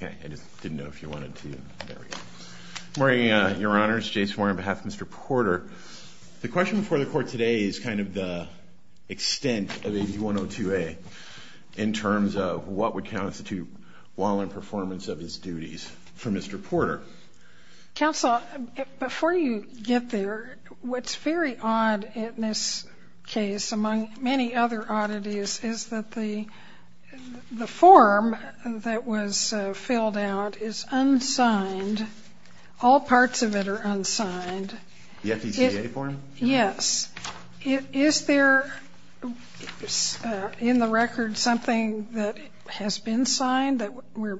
Court of Appeals. Okay. I just didn't know if you wanted to. There we go. Good morning, Your Honor. It's Jason Warren on behalf of Mr. Porter. The question before the Court today is kind of the extent of AB102A in terms of what would constitute while in performance of his duties for Mr. Porter. Counsel, before you get there, what's very odd in this case among many other oddities is that the form that was filled out is unsigned. All parts of it are unsigned. The FECA form? Yes. Is there in the record something that has been signed that we're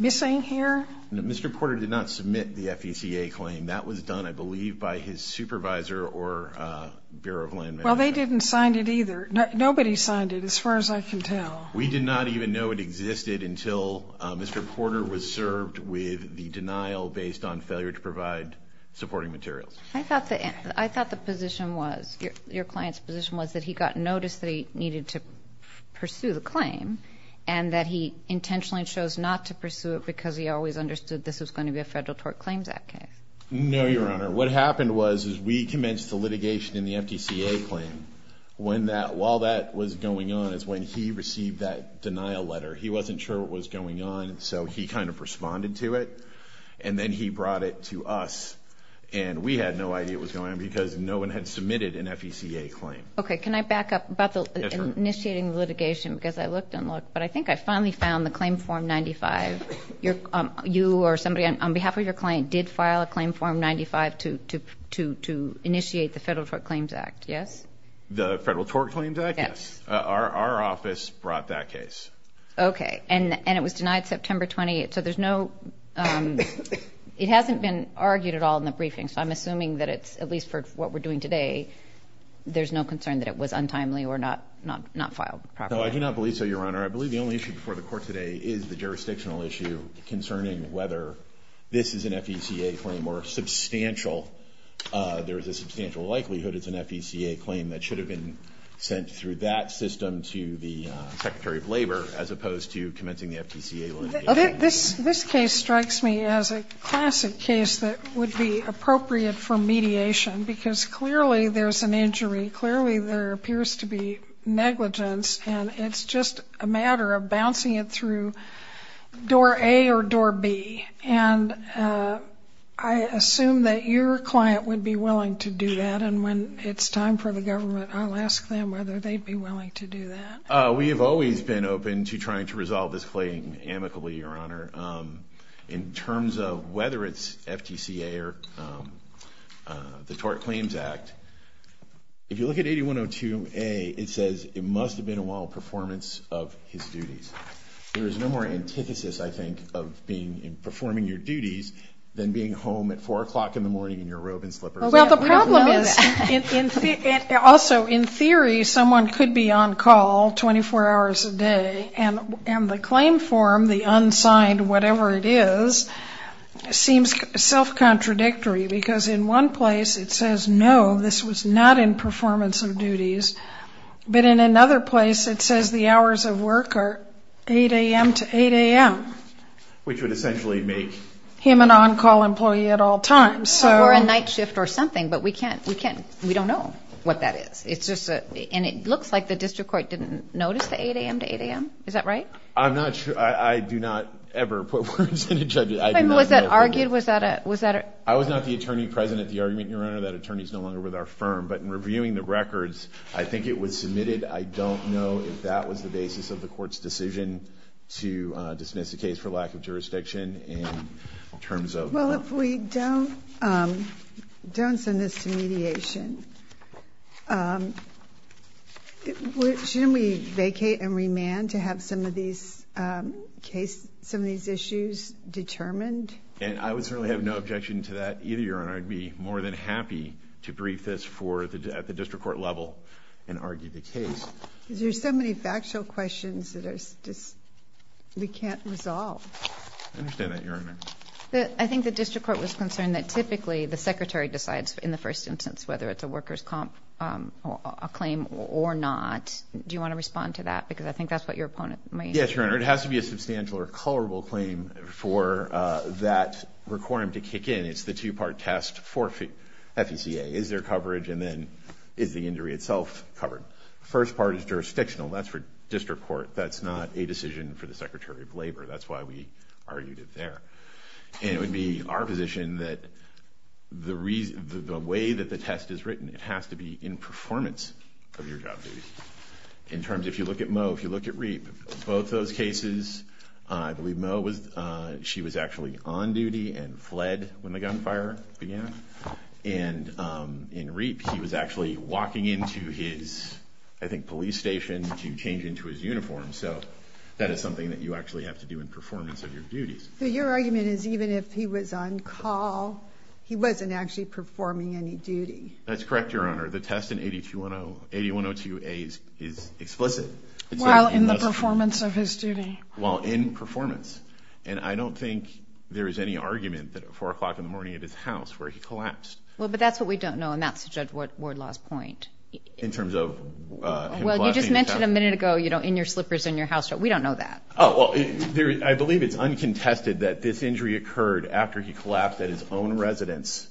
missing here? Mr. Porter did not submit the FECA claim. That was done, I believe, by his supervisor or Bureau of Land Management. Well, they didn't sign it either. Nobody signed it as far as I can tell. We did not even know it existed until Mr. Porter was served with the denial based on failure to provide supporting materials. I thought the position was, your client's position was that he got notice that he needed to pursue the claim and that he intentionally chose not to pursue it because he always understood this was going to be a Federal Tort Claims Act case. No, Your Honor. What happened was we commenced the litigation in the FECA claim. While that was going on is when he received that denial letter. He wasn't sure what was going on so he kind of responded to it and then he brought it to us and we had no idea what was going on because no one had submitted an FECA claim. Okay. Can I back up about the initiating litigation because I looked and looked, but I think I finally found the claim form 95. You or somebody on behalf of your client did file a claim form 95 to initiate the Federal Tort Claims Act, yes? The Federal Tort Claims Act, yes. Our office brought that case. Okay. And it was denied September 28th. So there's no, it hasn't been argued at all in the briefing so I'm assuming that it's at least for what we're doing today, there's no concern that it was untimely or not filed properly. No, I do not believe so, Your Honor. I believe the only issue before the Court today is the jurisdictional issue concerning whether this is an FECA claim or substantial, there is a substantial likelihood it's an FECA claim that should have been sent through that system to the Secretary of Labor as opposed to commencing the FECA litigation. This case strikes me as a classic case that would be appropriate for mediation because clearly there's an injury, clearly there appears to be negligence and it's just a matter of bouncing it through door A or door B. And I assume that your client would be willing to do that and when it's time for the government, I'll ask them whether they'd be willing to do that. We have always been open to trying to resolve this claim amicably, Your Honor, in terms of whether it's FTCA or the Tort Claims Act, if you look at 8102A, it says it must have been a while performance of his duties. There is no more antithesis, I think, of being in performing your duties than being home at 4 o'clock in the morning in your robe and slippers. Well, the problem is also in theory, someone could be on call 24 hours a day and the claim form, the unsigned whatever it is, seems self-contradictory because in one place it says, no, this was not in performance of duties, but in another place it says the hours of work are 8 a.m. to 8 a.m. Which would essentially make him an on-call employee at all times. Or a night shift or something, but we don't know what that is. It looks like the district court didn't notice the 8 a.m. to 8 a.m., is that right? I'm not sure, I do not ever put words in a judge's, I do not know. Was that argued, was that a? I was not the attorney present at the argument, Your Honor, that attorney is no longer with our firm, but in reviewing the records, I think it was submitted. I don't know if that was the basis of the court's decision to dismiss the case for lack of jurisdiction in terms of. Well, if we don't send this to mediation, shouldn't we vacate and remand to have some of these cases, some of these issues determined? And I would certainly have no objection to that either, Your Honor, I'd be more than happy to brief this at the district court level and argue the case. There's so many factual questions that we can't resolve. I understand that, Your Honor. I think the district court was concerned that typically the secretary decides in the first instance, whether it's a workers' comp, a claim or not, do you want to respond to that? Because I think that's what your opponent might. Yes, Your Honor, it has to be a substantial or colorable claim for that requirement to kick in. It's the two-part test for FECA. Is there coverage? And then is the injury itself covered? First part is jurisdictional, that's for district court. That's not a decision for the secretary of labor. That's why we argued it there. And it would be our position that the way that the test is written, it has to be in both cases. I believe Mo, if you look at Reap, both those cases, I believe Mo, she was actually on duty and fled when the gunfire began. And in Reap, he was actually walking into his, I think, police station to change into his uniform. So that is something that you actually have to do in performance of your duties. Your argument is even if he was on call, he wasn't actually performing any duty. That's correct, Your Honor. The test in 8102A is explicit. While in the performance of his duty. While in performance. And I don't think there is any argument that at 4 o'clock in the morning at his house where he collapsed. Well, but that's what we don't know. And that's Judge Wardlaw's point. In terms of... Well, you just mentioned a minute ago, you know, in your slippers in your house. We don't know that. Oh, well, I believe it's uncontested that this injury occurred after he collapsed at his own residence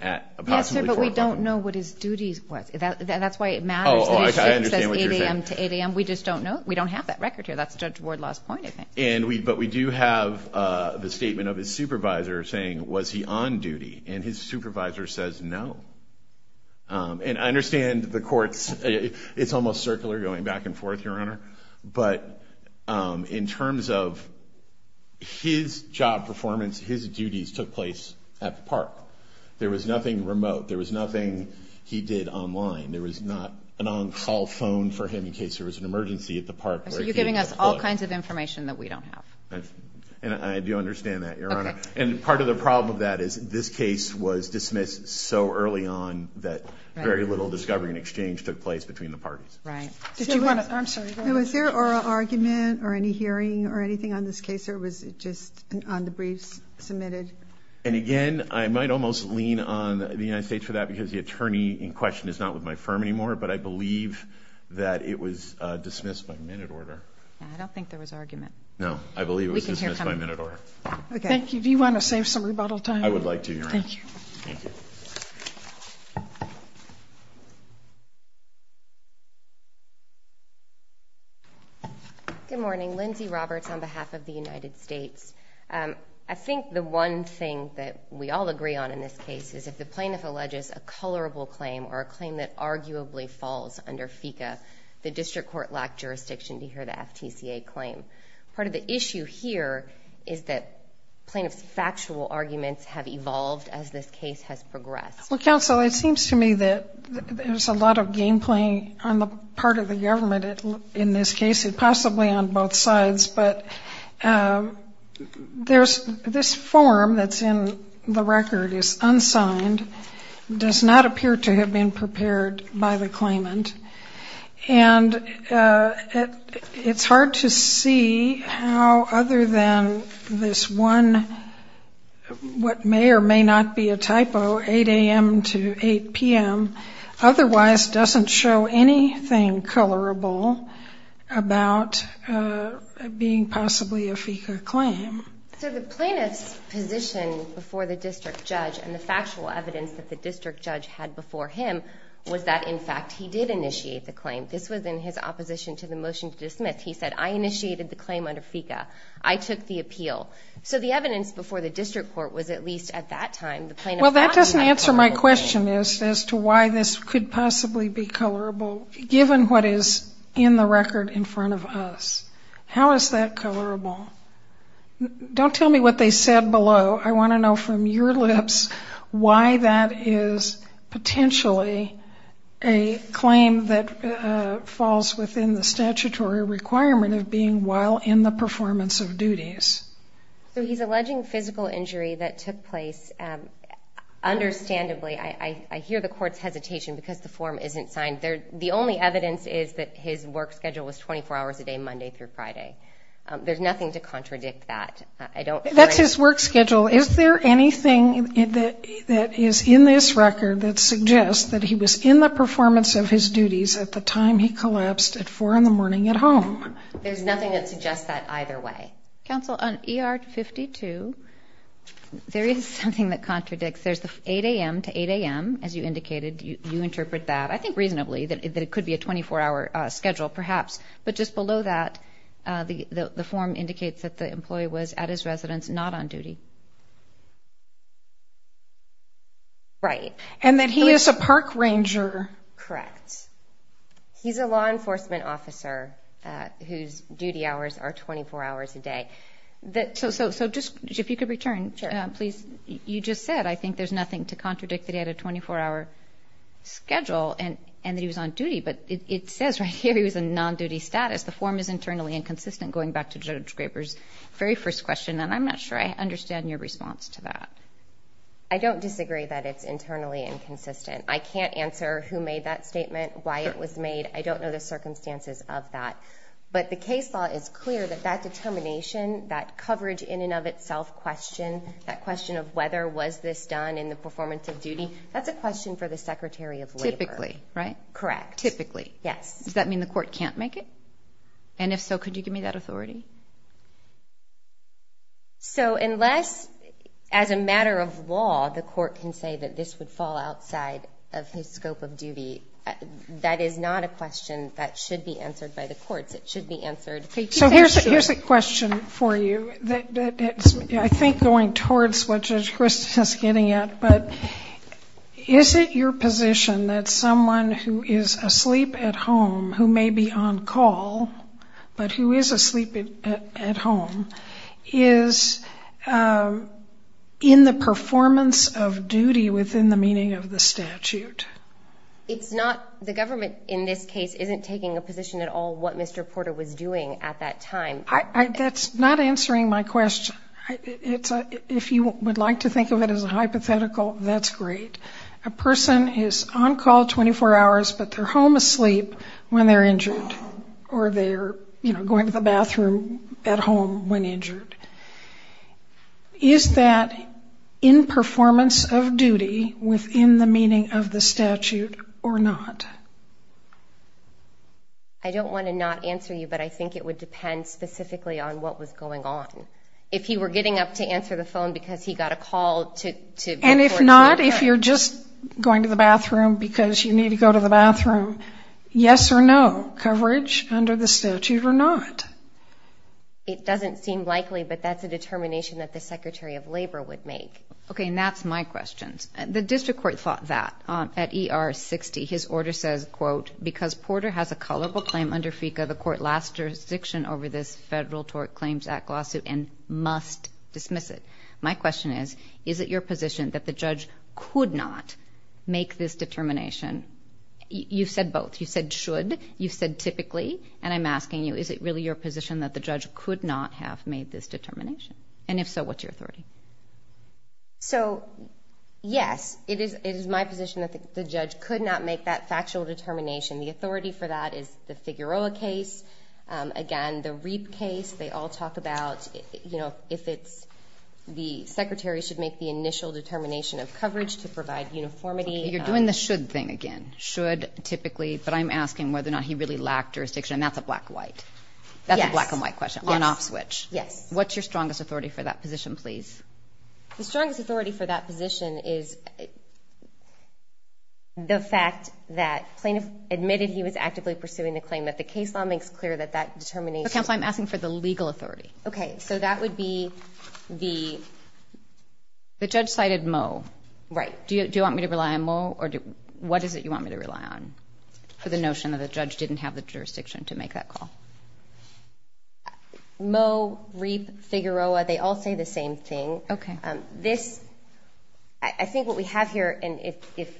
at approximately 4 o'clock in the morning. Yes, sir, but we don't know what his duties was. That's why it matters that he sleeps from 8 a.m. to 8 a.m. We just don't know. We don't have that record here. That's Judge Wardlaw's point, I think. But we do have the statement of his supervisor saying, was he on duty? And his supervisor says no. And I understand the courts, it's almost circular going back and forth, Your Honor. But in terms of his job performance, his duties took place at the park. There was nothing remote. There was nothing he did online. There was not an on-call phone for him in case there was an emergency at the park. So you're giving us all kinds of information that we don't have. And I do understand that, Your Honor. And part of the problem of that is this case was dismissed so early on that very little discovery and exchange took place between the parties. Right. Did you want to... I'm sorry, go ahead. Was there oral argument or any hearing or anything on this case, or was it just on the briefs submitted? And again, I might almost lean on the United States for that, because the attorney in question is not with my firm anymore. But I believe that it was dismissed by minute order. I don't think there was argument. No, I believe it was dismissed by minute order. Okay. Thank you. Do you want to save some rebuttal time? I would like to, Your Honor. Thank you. Good morning. Lindsay Roberts on behalf of the United States. I think the one thing that we all agree on in this case is if the plaintiff alleges a colorable claim or a claim that arguably falls under FECA, the district court lacked jurisdiction to hear the FTCA claim. Part of the issue here is that plaintiff's factual arguments have evolved as this case has progressed. Well, counsel, it seems to me that there's a lot of game playing on the part of the government in this case, and possibly on both sides, but this form that's in the record is unsigned, does not appear to have been prepared by the claimant. And it's hard to see how other than this one, what may or may not be a typo, 8 a.m. to 8 p.m., otherwise doesn't show anything colorable about being possibly a FECA claim. So the plaintiff's position before the district judge and the factual evidence that the district judge had before him was that, in fact, he did initiate the claim. This was in his opposition to the motion to dismiss. He said, I initiated the claim under FECA. I took the appeal. So the evidence before the district court was at least at that time, the plaintiff thought he had the claim. That doesn't answer my question as to why this could possibly be colorable, given what is in the record in front of us. How is that colorable? Don't tell me what they said below. I want to know from your lips why that is potentially a claim that falls within the statutory requirement of being while in the performance of duties. So he's alleging physical injury that took place. Understandably, I hear the court's hesitation because the form isn't signed. The only evidence is that his work schedule was 24 hours a day, Monday through Friday. There's nothing to contradict that. That's his work schedule. Is there anything that is in this record that suggests that he was in the performance of his duties at the time he collapsed at 4 in the morning at home? There's nothing that suggests that either way. Counsel, on ER 52, there is something that contradicts. There's the 8 a.m. to 8 a.m. As you indicated, you interpret that, I think reasonably, that it could be a 24-hour schedule perhaps. But just below that, the form indicates that the employee was at his residence, not on duty. Right. And that he is a park ranger. Correct. He's a law enforcement officer whose duty hours are 24 hours a day. So just if you could return, please. You just said, I think there's nothing to contradict that he had a 24-hour schedule and that he was on duty. But it says right here he was in non-duty status. The form is internally inconsistent, going back to Judge Graber's very first question. And I'm not sure I understand your response to that. I don't disagree that it's internally inconsistent. I can't answer who made that statement, why it was made. I don't know the circumstances of that. But the case law is clear that that determination, that coverage in and of itself question, that question of whether was this done in the performance of duty, that's a question for the Secretary of Labor. Typically, right? Correct. Typically. Yes. Does that mean the court can't make it? And if so, could you give me that authority? So unless, as a matter of law, the court can say that this would fall outside of his scope of duty, that is not a question that should be answered by the courts. It should be answered. So here's a question for you that's, I think, going towards what Judge Christoff is getting at. But is it your position that someone who is asleep at home, who may be on call, but who is asleep at home, is in the performance of duty within the meaning of the statute? It's not, the government in this case isn't taking a position at all what Mr. Porter was doing at that time. That's not answering my question. If you would like to think of it as a hypothetical, that's great. A person is on call 24 hours, but they're home asleep when they're injured, or they're going to the bathroom at home when injured. Is that in performance of duty within the meaning of the statute or not? I don't want to not answer you, but I think it would depend specifically on what was going on. If he were getting up to answer the phone because he got a call to report to the court. And if not, if you're just going to the bathroom because you need to go to the bathroom, yes or no, coverage under the statute or not? It doesn't seem likely, but that's a determination that the Secretary of Labor would make. Okay, and that's my question. The district court thought that. At ER 60, his order says, quote, because Porter has a colorable claim under FECA, the court lasts jurisdiction over this Federal Tort Claims Act lawsuit and must dismiss it. My question is, is it your position that the judge could not make this determination? You said both. You said should. You said typically. And I'm asking you, is it really your position that the judge could not have made this determination? And if so, what's your authority? So yes, it is my position that the judge could not make that factual determination. The authority for that is the Figueroa case, again, the REAP case. They all talk about, you know, if it's the Secretary should make the initial determination of coverage to provide uniformity. You're doing the should thing again. Should, typically. But I'm asking whether or not he really lacked jurisdiction. And that's a black-white. Yes. That's a black-and-white question. Yes. On-off switch. Yes. What's your strongest authority for that position, please? The strongest authority for that position is the fact that plaintiff admitted he was actively pursuing the claim, that the case law makes clear that that determination. But, counsel, I'm asking for the legal authority. Okay. So that would be the... The judge cited Moe. Right. Do you want me to rely on Moe? What is it you want me to rely on for the notion that the judge didn't have the jurisdiction to make that call? Moe, REAP, Figueroa, they all say the same thing. Okay. This... I think what we have here, if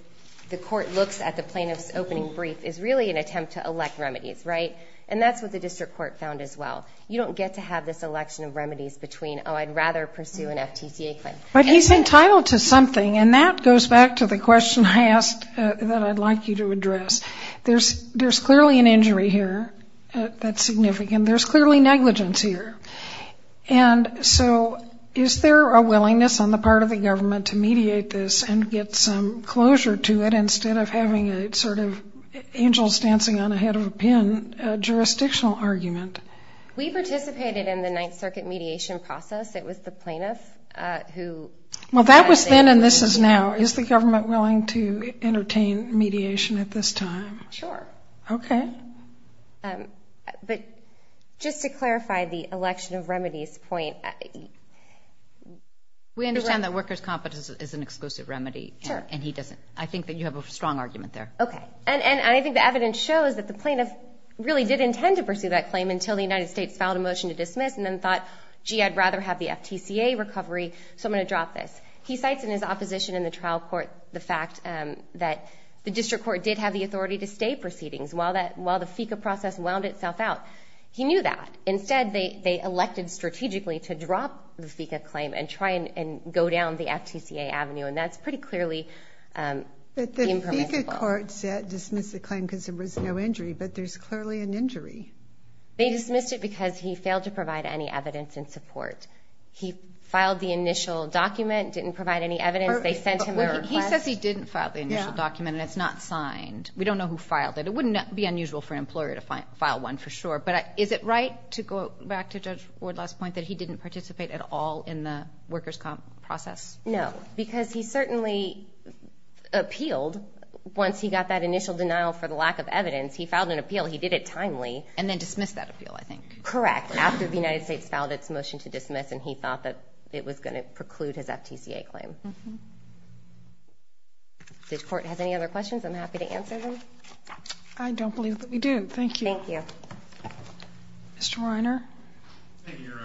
the court looks at the plaintiff's opening brief, is really an attempt to elect remedies, right? And that's what the district court found as well. You don't get to have this election of remedies between, oh, I'd rather pursue an FTCA claim. But he's entitled to something. And that goes back to the question I asked that I'd like you to address. There's clearly an injury here that's significant. There's clearly negligence here. And so, is there a willingness on the part of the government to mediate this and get some closure to it instead of having a sort of angel stancing on a head of a pin jurisdictional argument? We participated in the Ninth Circuit mediation process. It was the plaintiff who... Well, that was then and this is now. Is the government willing to entertain mediation at this time? Sure. Okay. But just to clarify the election of remedies point... We understand that workers' competence is an exclusive remedy. Sure. And he doesn't... I think that you have a strong argument there. Okay. And I think the evidence shows that the plaintiff really did intend to pursue that claim until the United States filed a motion to dismiss and then thought, gee, I'd rather have the FTCA recovery. So I'm going to drop this. He cites in his opposition in the trial court the fact that the district court did have the authority to stay proceedings while the FICA process wound itself out. He knew that. Instead, they elected strategically to drop the FICA claim and try and go down the FTCA And that's pretty clearly impermissible. But the FICA court said dismiss the claim because there was no injury, but there's clearly an injury. They dismissed it because he failed to provide any evidence in support. He filed the initial document, didn't provide any evidence. They sent him a request. He says he didn't file the initial document and it's not signed. We don't know who filed it. It wouldn't be unusual for an employer to file one for sure. But is it right to go back to Judge Ward's last point that he didn't participate at all in the workers' comp process? No. Because he certainly appealed once he got that initial denial for the lack of evidence. He filed an appeal. He did it timely. And then dismissed that appeal, I think. Correct. After the United States filed its motion to dismiss and he thought that it was going to preclude his FTCA claim. This court has any other questions? I'm happy to answer them. I don't believe that we do. Thank you. Thank you. Mr. Reiner. Thank you, Your Honor.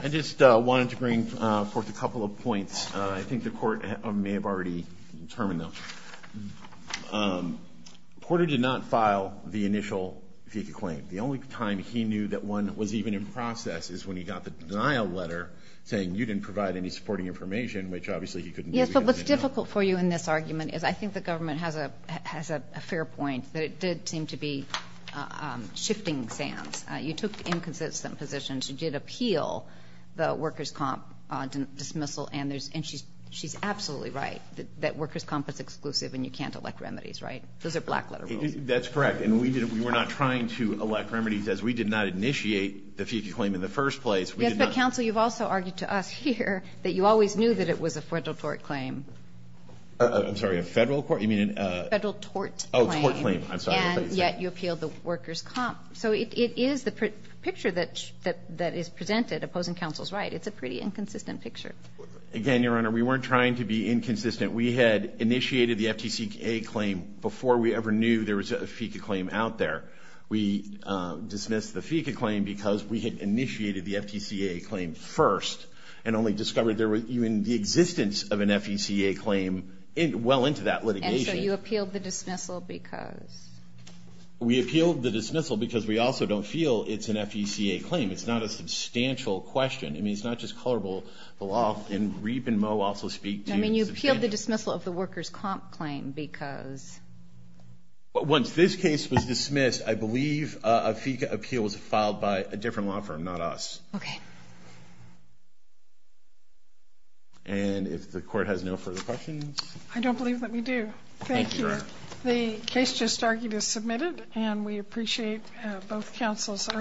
I just wanted to bring forth a couple of points. I think the court may have already determined them. Porter did not file the initial FTCA claim. The only time he knew that one was even in process is when he got the denial letter saying you didn't provide any supporting information, which obviously he couldn't do. Yes, but what's difficult for you in this argument is I think the government has a fair point that it did seem to be shifting sands. You took inconsistent positions. You did appeal the workers' comp dismissal and she's absolutely right that workers' comp is exclusive and you can't elect remedies, right? Those are black letter rules. That's correct. And we were not trying to elect remedies as we did not initiate the FTCA claim in the first place. Yes, but, counsel, you've also argued to us here that you always knew that it was a federal tort claim. I'm sorry, a federal court? You mean a federal tort claim. Oh, a tort claim. I'm sorry. And yet you appealed the workers' comp. So it is the picture that is presented opposing counsel's right. It's a pretty inconsistent picture. Again, Your Honor, we weren't trying to be inconsistent. We had initiated the FTCA claim before we ever knew there was a FECA claim out there. We dismissed the FECA claim because we had initiated the FTCA claim first and only discovered there was even the existence of an FECA claim well into that litigation. And so you appealed the dismissal because? We appealed the dismissal because we also don't feel it's an FECA claim. It's not a substantial question. I mean, it's not just colorable, the law. And Riep and Moe also speak to substantial. I mean, you appealed the dismissal of the workers' comp claim because? Once this case was dismissed, I believe a FECA appeal was filed by a different law firm, not us. Okay. And if the court has no further questions? I don't believe that we do. Thank you. Thank you, Your Honor. The case just argued is submitted and we appreciate both counsels.